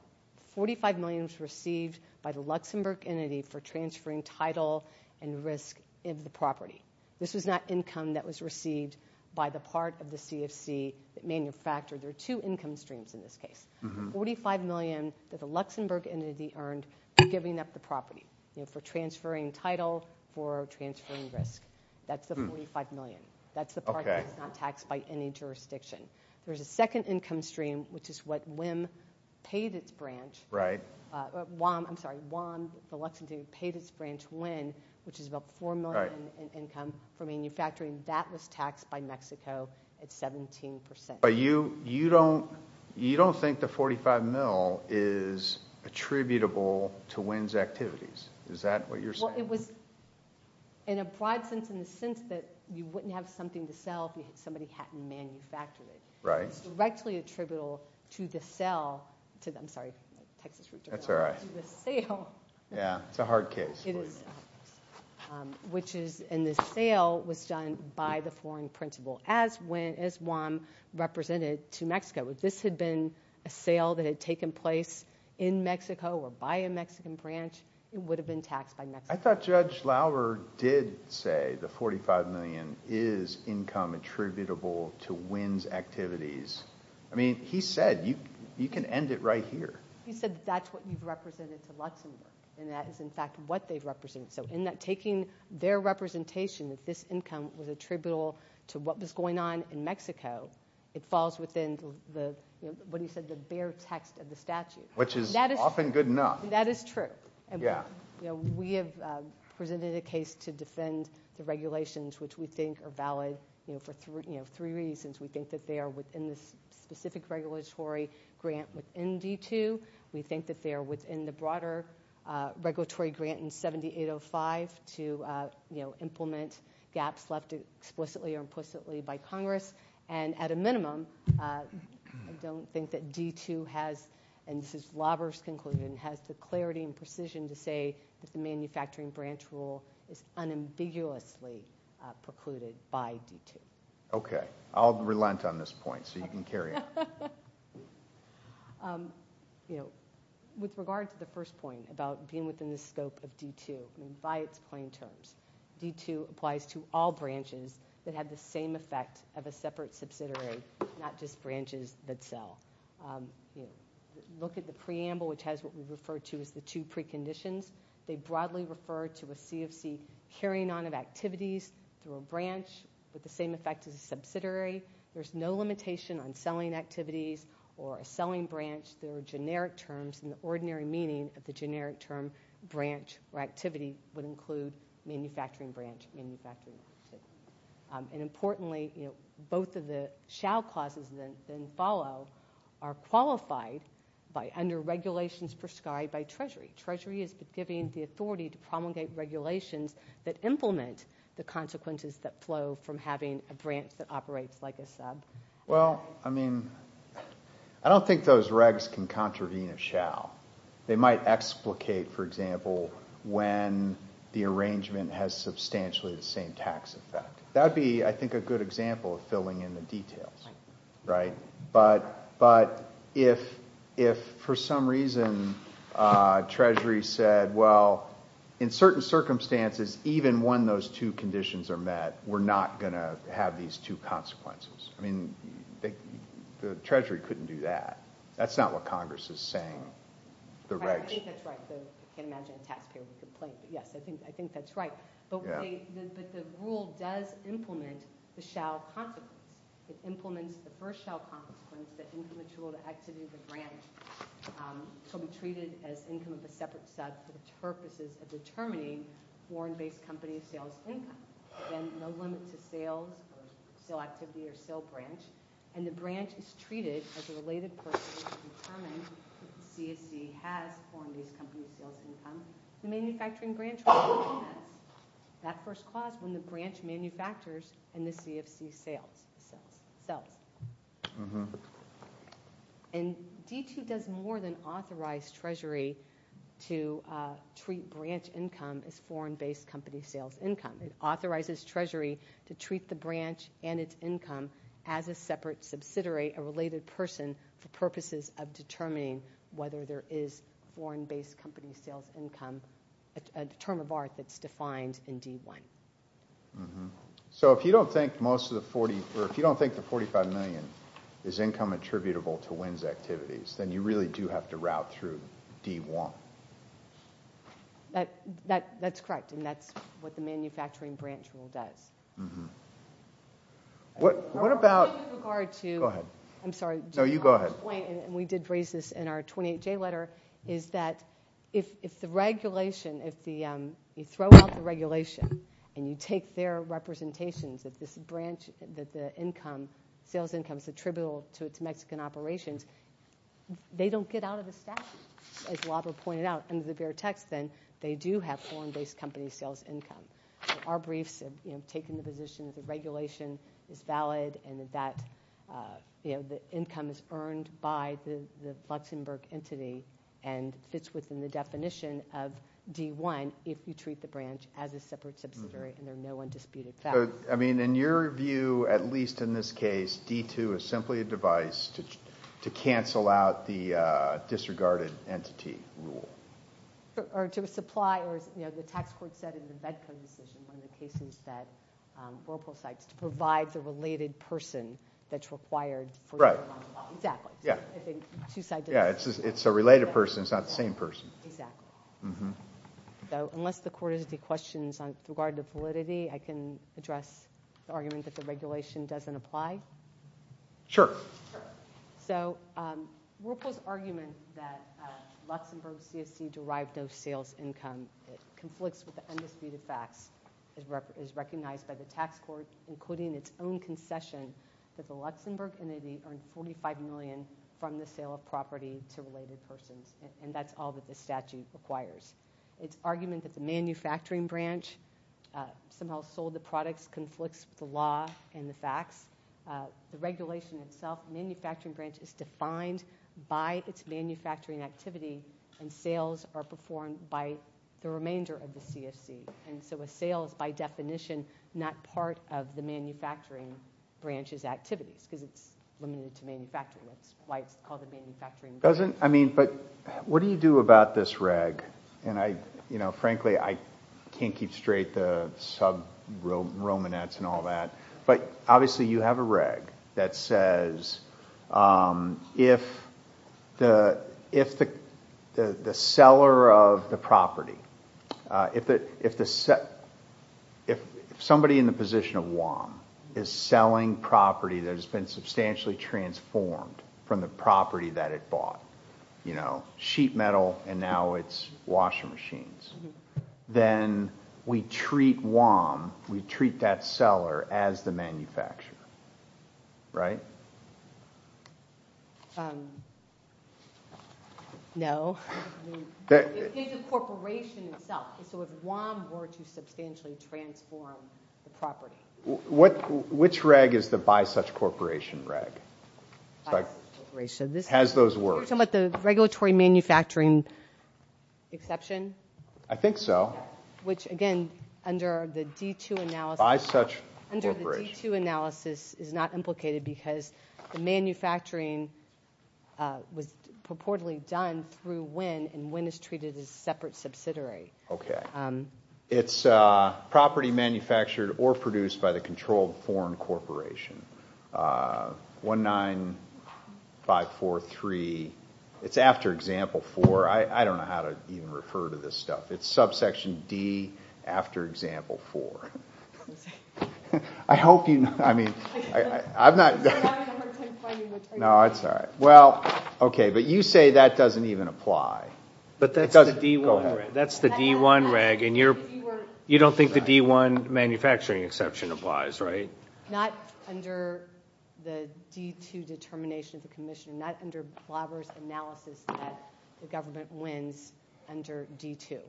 $45 million was received by the Luxembourg entity for transferring title and risk into the property. This was not income that was received by the part of the CFC that manufactured. There are two income streams in this case. $45 million that the Luxembourg entity earned for giving up the property, for transferring title, for transferring risk. That's the $45 million. That's the part that's not taxed by any jurisdiction. There's a second income stream, which is what WIM paid its branch... Right. I'm sorry, WAM, the Luxembourg entity, paid its branch WIN, which is about $4 million in income for manufacturing. That was taxed by Mexico at 17%. But you don't think the $45 million is attributable to WIN's activities. Is that what you're saying? Well, it was, in a broad sense, in the sense that you wouldn't have something to sell if somebody hadn't manufactured it. Right. It's directly attributable to the sale... I'm sorry, Texas... That's all right. Yeah, it's a hard case for you. Which is... And the sale was done by the foreign principal, as WAM represented to Mexico. If this had been a sale that had taken place in Mexico or by a Mexican branch, it would have been taxed by Mexico. I thought Judge Lauer did say the $45 million is income attributable to WIN's activities. I mean, he said, you can end it right here. He said that's what you've represented to Luxembourg, and that is, in fact, what they've represented. So in that taking their representation that this income was attributable to what was going on in Mexico, it falls within the, what he said, the bare text of the statute. Which is often good enough. That is true. We have presented a case to defend the regulations which we think are valid for three reasons. We think that they are within the specific regulatory grant within D2. We think that they are within the broader regulatory grant in 7805 to implement gaps left explicitly or implicitly by Congress. And at a minimum, I don't think that D2 has, and this is Lauer's conclusion, has the clarity and precision to say that the manufacturing branch rule is unambiguously precluded by D2. Okay. I'll relent on this point, so you can carry on. You know, with regard to the first point about being within the scope of D2 by its plain terms, D2 applies to all branches that have the same effect of a separate subsidiary, not just branches that sell. Look at the preamble which has what we refer to as the two preconditions. They broadly refer to a CFC carrying on of activities through a branch with the same effect as a subsidiary. There's no limitation on selling activities or a selling branch through generic terms in the ordinary meaning of the generic term branch or activity would include manufacturing branch and manufacturing activity. And importantly, both of the shall clauses then follow are qualified by under regulations prescribed by Treasury. Treasury is giving the authority to promulgate regulations that implement the consequences that flow from having a branch that operates like a sub. Well, I mean, I don't think those regs can contravene a shall. They might explicate, for example, when the arrangement has substantially the same tax effect. That would be, I think, a good example of filling in the details. But if for some reason Treasury said, well, in certain circumstances, even when those two conditions are met, we're not going to have these two consequences. I mean, the Treasury couldn't do that. That's not what Congress is saying. Right, I think that's right. I can't imagine a taxpayer would complain. Yes, I think that's right. But the rule does implement the shall consequence. It implements the first shall consequence that individual activity of the branch shall be treated as income of a separate sub for the purposes of determining foreign-based company sales income. Again, no limit to sales or sale activity or sale branch. And the branch is treated as a related person to determine if the CFC has foreign-based company sales income to manufacturing branch. That first clause, when the branch manufactures and the CFC sells. And D2 does more than authorize Treasury to treat branch income as foreign-based company sales income. It authorizes Treasury to treat the branch and its income as a separate subsidiary, a related person for purposes of determining whether there is foreign-based company sales income, a term of art that's defined in D1. So if you don't think the $45 million is income attributable to WINS activities, then you really do have to route through D1. That's correct. And that's what the manufacturing branch rule does. What about... Go ahead. I'm sorry. No, you go ahead. We did raise this in our 28-J letter is that if the regulation, if you throw out the regulation and you take their representations that this branch, that the income, sales income is attributable to its Mexican operations, they don't get out of the statute as Robert pointed out, they do have foreign-based company sales income. Our briefs have taken the position that the regulation is valid and that the income is earned by the Luxembourg entity and fits within the definition of D1 if you treat the branch as a separate subsidiary and there's no one disputed fact. In your view, at least in this case, D2 is simply a device to cancel out the disregarded entity rule. Or to supply or as the tax court said in the VEDCO decision to provide the related person that's required Right. It's a related person, it's not the same person. Exactly. Unless the court has any questions regarding validity, I can address the argument that the regulation doesn't apply? Sure. So, Ruppel's argument that Luxembourg CSC derived no sales income conflicts with the undisputed facts is recognized by the tax court including its own concession that the Luxembourg entity earned $45 million from the sale of property to related persons and that's all that the statute requires. Its argument that the manufacturing branch somehow sold the products conflicts with the law and the facts. The regulation itself, manufacturing branch is defined by its manufacturing activity and sales are performed by the remainder of the CSC. And so a sale is by definition not part of the manufacturing branch's activities because it's limited to manufacturing. It's why it's called a manufacturing branch. What do you do about this reg? And I, you know, frankly I can't keep straight the sub-romanets and all that but obviously you have a reg that says if if the seller of the property if the if somebody in the position of WAM is selling property that has been substantially transformed from the property that it bought, you know, sheet metal and now it's washing machines, then we treat WAM we treat that seller as the manufacturer. Right? No. It's the corporation itself. So if WAM were to substantially transform the property. Which reg is the by such corporation reg? Has those words. Are you talking about the regulatory manufacturing exception? I think so. Which again, under the D2 analysis is not implicated because the manufacturing was purportedly done through WIN and WIN is treated as a separate subsidiary. Okay. It's property manufactured or produced by the controlled foreign corporation. 1-9 5-4-3 It's after example 4. I don't know how to even refer to this stuff. It's subsection D after example 4. I hope you know. I mean, I'm not No, it's alright. Well, okay. But you say that doesn't even apply. That's the D1 reg and you don't think the D1 manufacturing exception applies. Right? Not under the D2 determination of the commission. Not under analysis that the government WINS under D2.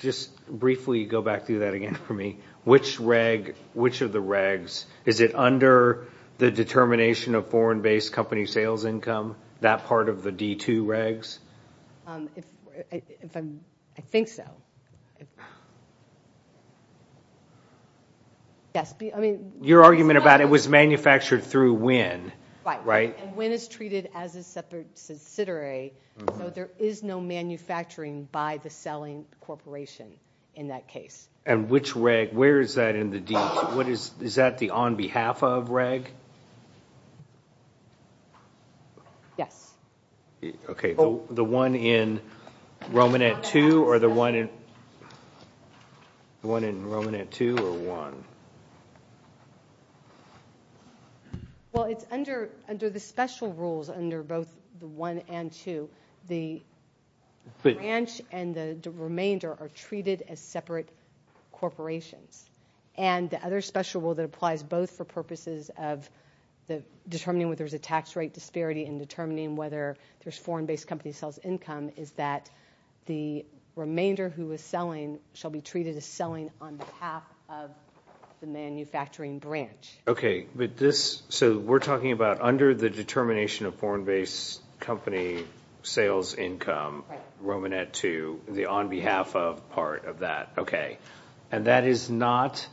Just briefly go back through that again for me. Which reg, which of the regs is it under the determination of foreign based company sales income, that part of the D2 regs? I think so. Your argument about it was manufactured through WIN. Right. And WIN is treated as a subsidiary, so there is no manufacturing by the selling corporation in that case. And which reg, where is that in the D2? Is that the on behalf of reg? Yes. The one in Romanet 2 or the one in Romanet 2 or 1? Well, it's under the special rules under both 1 and 2. The branch and the remainder are treated as separate corporations. And the other special rule that applies both for purposes of determining whether there is a tax rate disparity and determining whether there is foreign based company sales income is that the remainder who is selling shall be treated as selling on behalf of the manufacturing branch. Okay. So we're talking about under the determination of foreign based company sales income Romanet 2, the on behalf of part of that. Okay. And that is not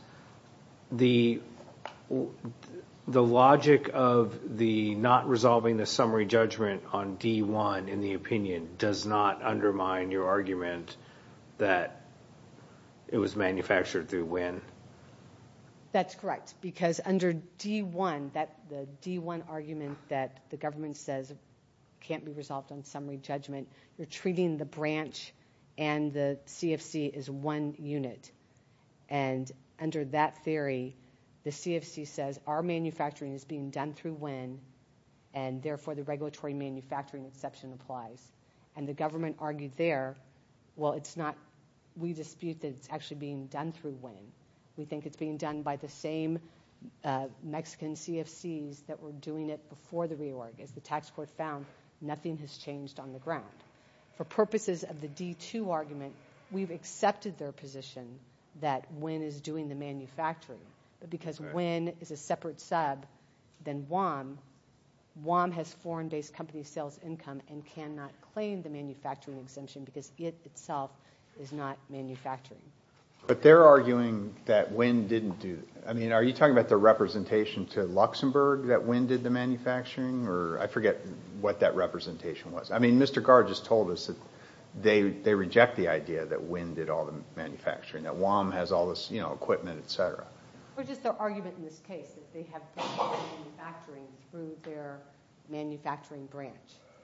the the logic of the not resolving the summary judgment on D1 in the opinion does not undermine your argument that it was manufactured through WIN? That's correct. Because under D1, that D1 argument that the government says can't be resolved on summary judgment, you're treating the branch and the CFC as one unit. And under that theory the CFC says our manufacturing is being done through WIN and therefore the regulatory manufacturing exception applies. And the government argued there, well it's not, we dispute that it's actually being done through WIN. We think it's being done by the same Mexican CFCs that were doing it before the reorg. As the tax court found, nothing has changed on the ground. For purposes of the D2 argument, we've accepted their position that WIN is doing the manufacturing because WIN is a separate sub than WOM. WOM has foreign based company sales income and cannot claim the manufacturing exemption because it itself is not manufacturing. But they're arguing that WIN didn't do, I mean are you talking about the representation to Luxembourg that WIN did the manufacturing? Or I forget what that representation was. I mean Mr. Gard just told us that they reject the idea that WIN did all the manufacturing, that WOM has all this equipment, etc. It's just their argument in this case that they have been manufacturing through their manufacturing branch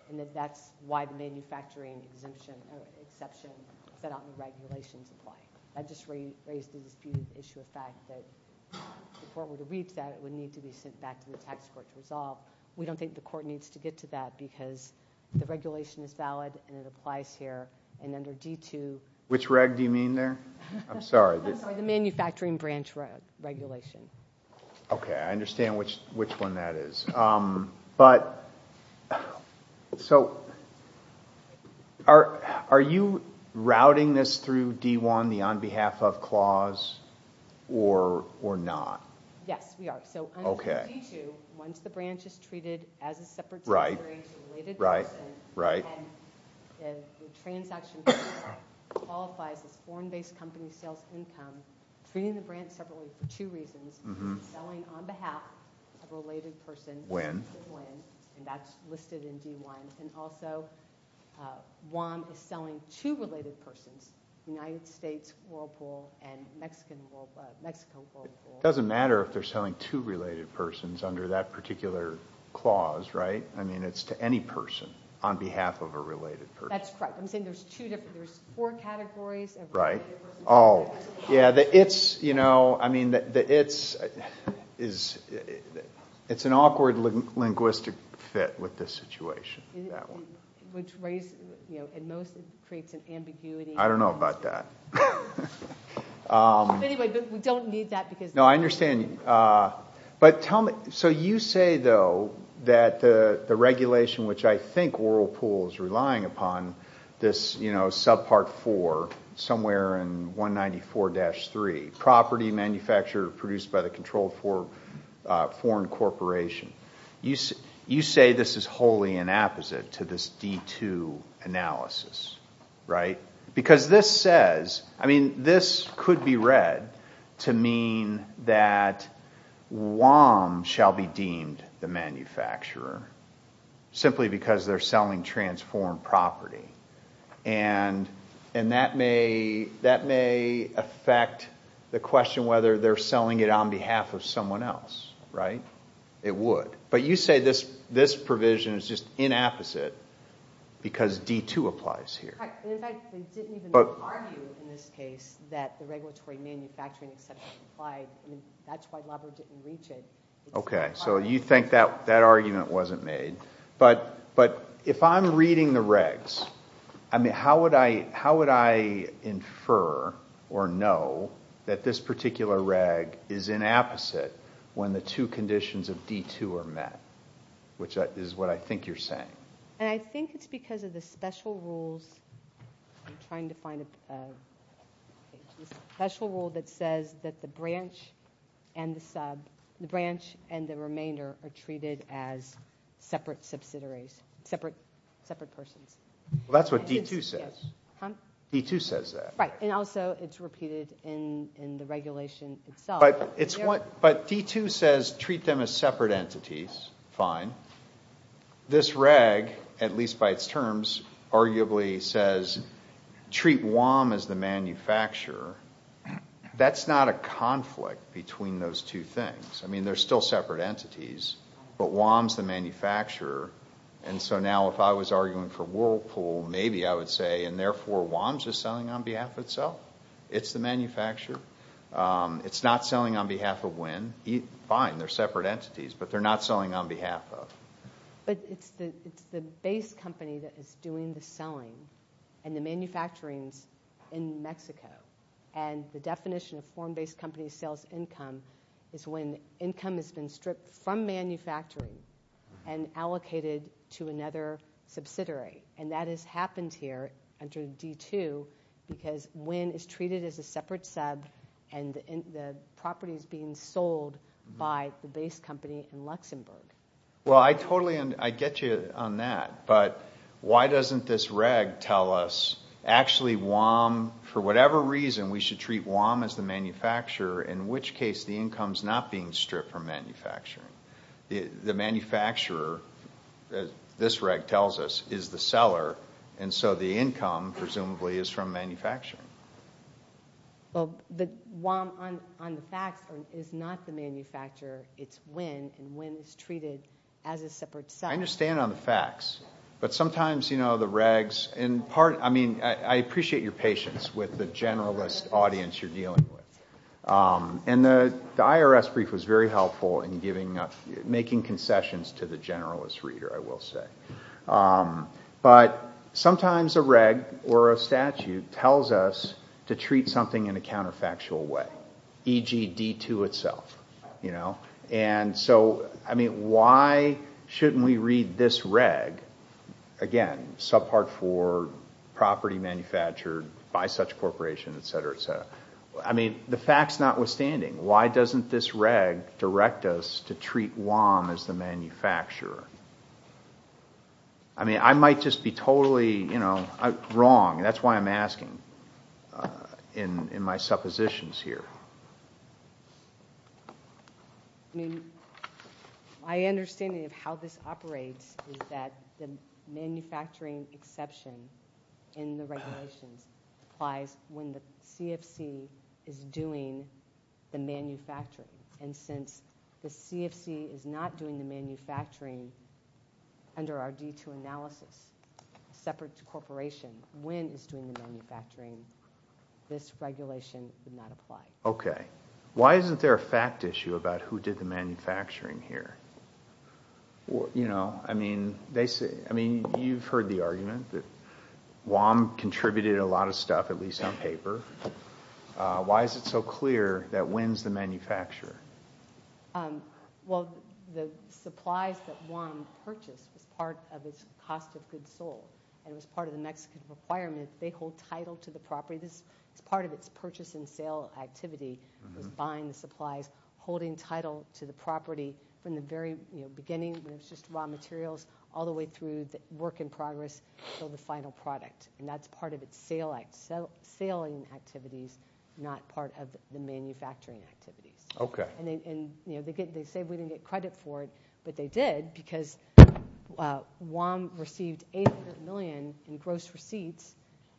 and that that's why the manufacturing exemption or exception that all the regulations apply. That just raised the issue of fact that the court would read that it would need to be sent back to the tax court to resolve. We don't think the court needs to get to that because the regulation is valid and it applies here and under D2... Which reg do you mean there? I'm sorry. The manufacturing branch regulation. Okay, I understand which one that is. But so are you routing this through D1, the on behalf of clause or not? Yes, we are. So under D2, once the branch is treated as a separate separate related person and the transaction qualifies as foreign based company sales income treating the branch separately for two reasons selling on behalf of and that's listed in D1 and also WAM is selling to related persons United States Whirlpool and Mexico Whirlpool. It doesn't matter if they're selling to related persons under that particular clause, right? I mean it's to any person on behalf of a related person. That's correct. I'm saying there's two there's four categories. Right. Oh, yeah. It's, you know, I mean it's it's it's an awkward linguistic fit with this situation. Which raises, you know, and mostly creates an ambiguity. I don't know about that. Anyway, we don't need that because. No, I understand. But tell me, so you say though that the regulation which I think Whirlpool is relying upon this, you know, subpart four somewhere in 194-3 property manufacturer produced by the controlled foreign corporation. You say this is wholly an opposite to this D2 analysis. Right? Because this says, I mean this could be read to mean that WAM shall be deemed the manufacturer simply because they're selling transformed property. And that may affect the question whether they're selling it on behalf of someone else. Right? It would. But you say this provision is just inapposite because D2 applies here. In fact, they didn't even argue in this case that the regulatory manufacturing etc. applied. That's why Labo didn't reach it. Okay, so you think that argument wasn't made. But if I'm reading the regs I mean, how would I infer or know that this particular reg is inapposite when the two conditions of D2 are met? Which is what I think you're saying. And I think it's because of the special rules I'm trying to find the special rule that says that the branch and the sub, the branch and the remainder are treated as separate subsidiaries. Separate persons. That's what D2 says. D2 says that. And also it's repeated in the regulation itself. But D2 says treat them as separate entities. Fine. This reg, at least by its terms, arguably says treat WOM as the manufacturer. That's not a conflict between those two things. I mean, they're still separate entities. But WOM's the manufacturer. And so now if I was arguing for Whirlpool, maybe I would say and therefore WOM's just selling on behalf of itself. It's the manufacturer. It's not selling on behalf of WHIN. Fine, they're separate entities, but they're not selling on behalf of. But it's the base company that is doing the selling and the manufacturing in Mexico. And the definition of form-based company sales income is when income has been stripped from manufacturing and allocated to another subsidiary. And that has happened here under D2 because WHIN is treated as a separate sub and the property is being sold by the base company in Luxembourg. I get you on that. But why doesn't this reg tell us actually WOM, for whatever reason, we should treat WOM as the manufacturer, in which case the income's not being stripped from manufacturing. The manufacturer, this reg tells us, is the seller and so the income, presumably, is from manufacturing. Well, the WOM on the facts is not the manufacturer. It's WHIN and WHIN is treated as a separate sub. I understand on the facts. But sometimes, you know, the regs in part, I mean, I appreciate your patience with the generalist audience you're dealing with. And the IRS brief was very helpful in giving up, making concessions to the generalist reader, I will say. But sometimes a reg or a statute tells us to treat something in a counterfactual way, e.g. D2 itself, you know. And so, I mean, why shouldn't we read this reg again, subpart 4, property manufactured by such corporation, etc. I mean, the facts notwithstanding, why doesn't this reg direct us to treat WOM as the manufacturer? I mean, I might just be totally, you know, wrong. That's why I'm asking in my suppositions here. I mean, my understanding of how this operates is that the manufacturing exception in the regulations applies when the CFC is doing the manufacturing. And since the CFC is not doing the manufacturing under our D2 analysis, a separate corporation, when it's doing the manufacturing, this regulation did not apply. Okay. Why isn't there a fact issue about who did the manufacturing here? You know, I mean, you've heard the argument that there's a lot of stuff, at least on paper. Why is it so clear that WOM's the manufacturer? Well, the supplies that WOM purchased was part of its cost of goods sold, and it was part of the Mexican requirement. They hold title to the property. It's part of its purchase and sale activity, is buying the supplies, holding title to the property from the very beginning, when it's just raw materials, all the way through the work in progress until the WOM collects saline activities, not part of the manufacturing activities. Okay. They say we didn't get credit for it, but they did, because WOM received $800 million in gross receipts,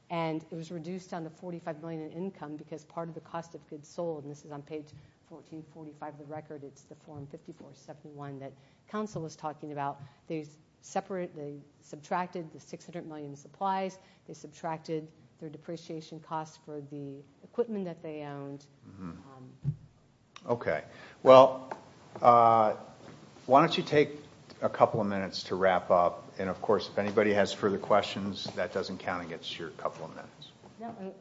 and it was reduced down to $45 million in income because part of the cost of goods sold, and this is on page 1445 of the record, it's the form 5471 that Council was talking about, they subtracted the $600 million in supplies, they subtracted their depreciation costs for the equipment that they owned. Okay. Well, why don't you take a couple of minutes to wrap up, and of course, if anybody has further questions, that doesn't count against your couple of minutes.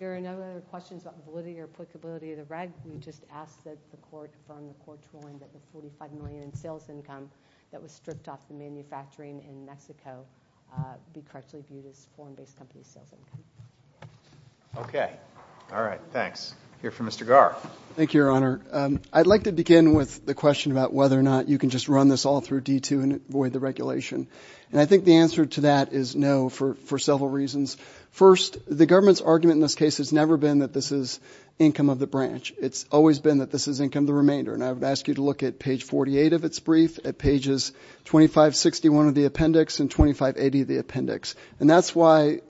There are no other questions about validity or applicability of the reg. You just asked that the court, from the court's ruling, that the $45 million in sales income that was stripped off the manufacturing in Mexico be correctly viewed as foreign-based company sales income. Okay. All right, thanks. I'll hear from Mr. Gar. Thank you, Your Honor. I'd like to begin with the question about whether or not you can just run this all through D-2 and avoid the regulation, and I think the answer to that is no, for several reasons. First, the government's argument in this case has never been that this is income of the branch. It's always been that this is income of the remainder, and I would ask you to look at page 48 of its brief, at pages 2561 of the appendix and 2580 of the appendix, and that's why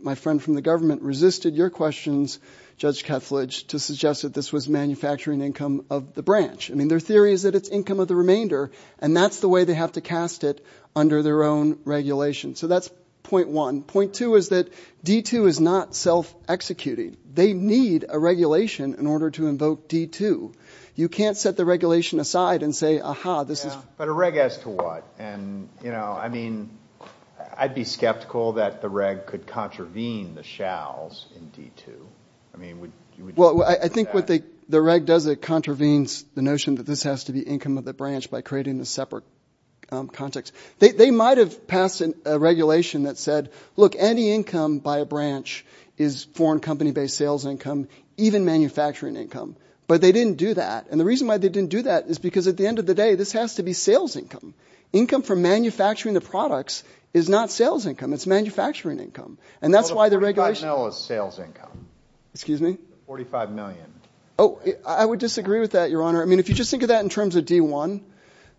my friend from the government resisted your questions, Judge Kethledge, to suggest that this was manufacturing income of the branch. I mean, their theory is that it's income of the remainder, and that's the way they have to cast it under their own regulation. So that's point one. Point two is that D-2 is not self-executing. They need a regulation in order to invoke D-2. You can't set the regulation aside and say, aha, this is... But a reg as to what? And, you know, I mean, I'd be skeptical that the reg could contravene the shalls in D-2. I mean, would you agree with that? Well, I think what the reg does, it contravenes the notion that this has to be income of the branch by creating a separate context. They might have passed a regulation that said, look, any income by a branch is foreign company-based sales income, even manufacturing income. But they didn't do that, and the reg says, hey, this has to be sales income. Income from manufacturing the products is not sales income, it's manufacturing income. And that's why the regulation... 45 mil is sales income. Excuse me? 45 million. Oh, I would disagree with that, Your Honor. I mean, if you just think of that in terms of D-1,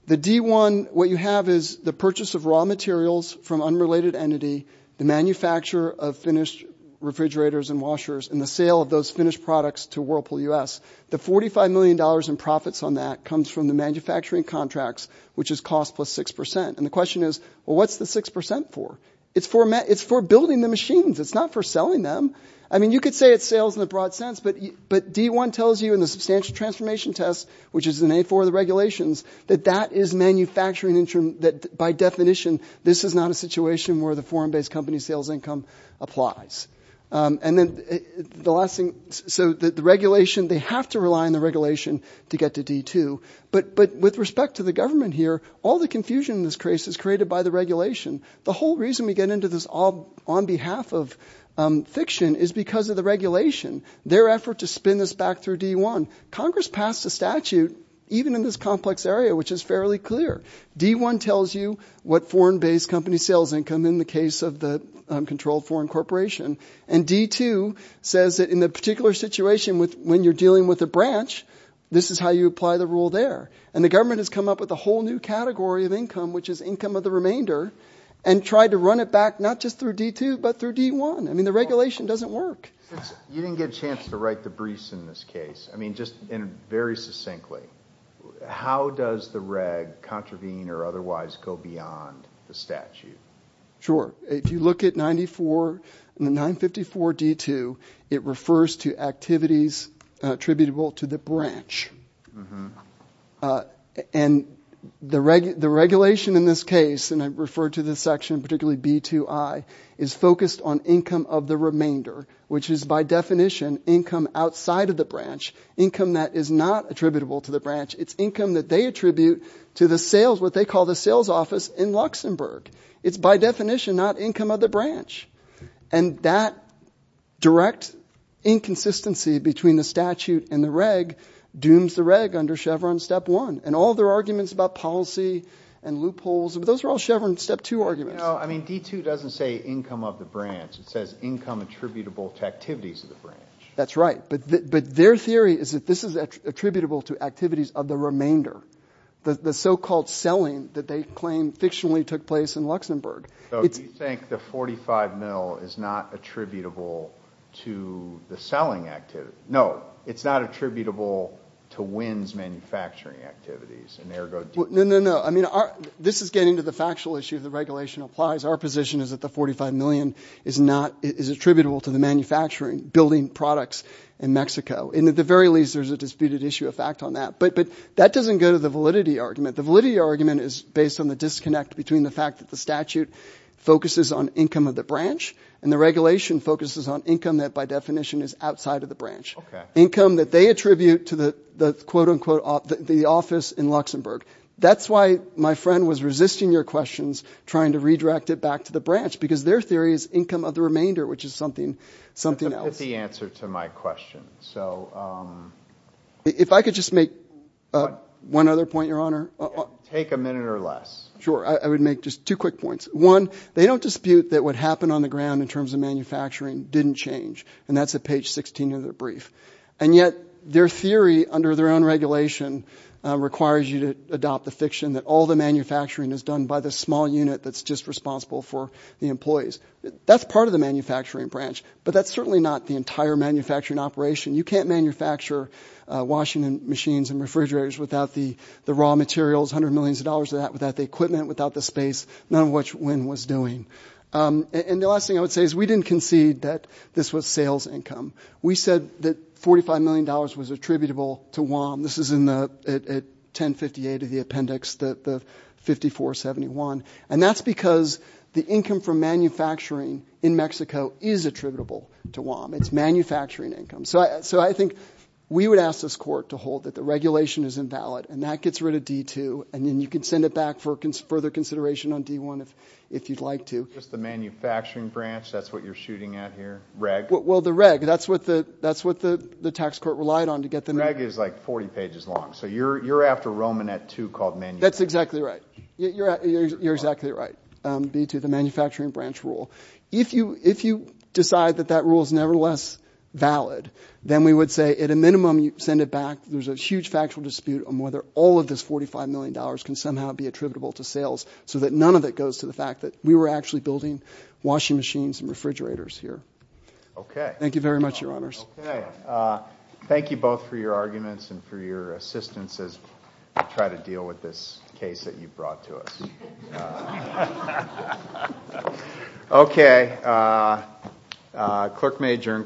the D-1, what you have is the purchase of raw materials from unrelated entity, the manufacture of finished refrigerators and washers, and the sale of those finished products to Whirlpool U.S. The $45 million in profits on that comes from the manufacturing contracts, which is cost plus 6%. And the question is, well, what's the 6% for? It's for building the machines. It's not for selling them. I mean, you could say it's sales in a broad sense, but D-1 tells you in the substantial transformation test, which is in A-4 of the regulations, that that is manufacturing... that by definition, this is not a situation where the foreign-based company sales income applies. And then the last thing... so the regulation... they have to rely on the regulation to get to D-2. But with respect to the government here, all the confusion in this case is created by the regulation. The whole reason we get into this on behalf of fiction is because of the regulation. Their effort to spin this back through D-1. Congress passed a statute even in this complex area, which is fairly clear. D-1 tells you what foreign-based company sales income in the case of the controlled foreign corporation. And D-2 says that in the particular situation when you're dealing with a branch, this is how you apply the rule there. And the government has come up with a whole new category of income, which is income of the remainder, and tried to run it back, not just through D-2, but through D-1. I mean, the regulation doesn't work. You didn't get a chance to write the briefs in this case. I mean, just very succinctly, how does the reg contravene or otherwise go beyond the statute? Sure. If you look at 94 and 954 D-2, it refers to activities attributable to the branch. And the regulation in this case, and I refer to this section, particularly B-2i, is focused on income of the remainder, which is by definition income outside of the branch, income that is not attributable to the branch. It's income that they attribute to the sales, what they call the sales office in Luxembourg. It's by definition not income of the branch. And that direct inconsistency between the statute and the reg dooms the reg under Chevron Step 1. And all their arguments about policy and loopholes, those are all Chevron Step 2 arguments. I mean, D-2 doesn't say income of the branch. It says income attributable to activities of the branch. That's right. But their theory is that this is attributable to activities of the remainder, the so-called selling that they claim fictionally took place in Luxembourg. So you think the 45 mil is not attributable to the selling activity? No, it's not attributable to WINS manufacturing activities. No, no, no. I mean, this is getting to the factual issue the regulation applies. Our position is that the 45 million is attributable to the manufacturing, building products in Mexico. And at the very least there's a disputed issue of fact on that. But that doesn't go to the validity argument. The validity argument is based on the disconnect between the fact that the statute focuses on income of the branch and the regulation focuses on income that by definition is outside of the branch. Income that they attribute to the quote-unquote office in Luxembourg. That's why my friend was resisting your questions trying to redirect it back to the branch because their theory is income of the remainder which is something else. That's the answer to my question. If I could just make one other point, your honor. Take a minute or less. Sure. I would make just two quick points. One, they don't dispute that what happened on the ground in terms of manufacturing didn't change. And that's at page 16 of their brief. And yet, their theory under their own regulation requires you to adopt the fiction that all the manufacturing is done by the small unit that's just responsible for the employees. That's part of the manufacturing branch. But that's certainly not the entire manufacturing operation. You can't manufacture washing machines and refrigerators without the raw materials, $100 million of that, without the equipment, without the space. None of which Wynn was doing. And the last thing I would say is we didn't concede that this was sales income. We said that $45 million was attributable to WOM. This is in the 1058 of the appendix, the 5471. And that's because the income from manufacturing in Mexico is attributable to WOM. It's manufacturing income. So I think we would ask this court to hold that the regulation is invalid. And that gets rid of D2. And then you can send it back for further consideration on D1 if you'd like to. Just the manufacturing branch? That's what you're shooting at here? REG? Well, the REG. That's what the tax court relied on to get them in. REG is like 40 pages long. So you're after Roman at 2 called manufacturing. That's exactly right. You're exactly right. B2, the manufacturing branch rule. If you decide that that rule is nevertheless valid, then we would say at a minimum you send it back. There's a huge factual dispute on whether all of this $45 million can somehow be attributable to sales so that none of it goes to the fact that we were actually building washing machines and refrigerators here. Thank you very much, Your Honors. Thank you both for your arguments and for your assistance as we try to deal with this case that you brought to us. Okay. Okay. Clerk may adjourn.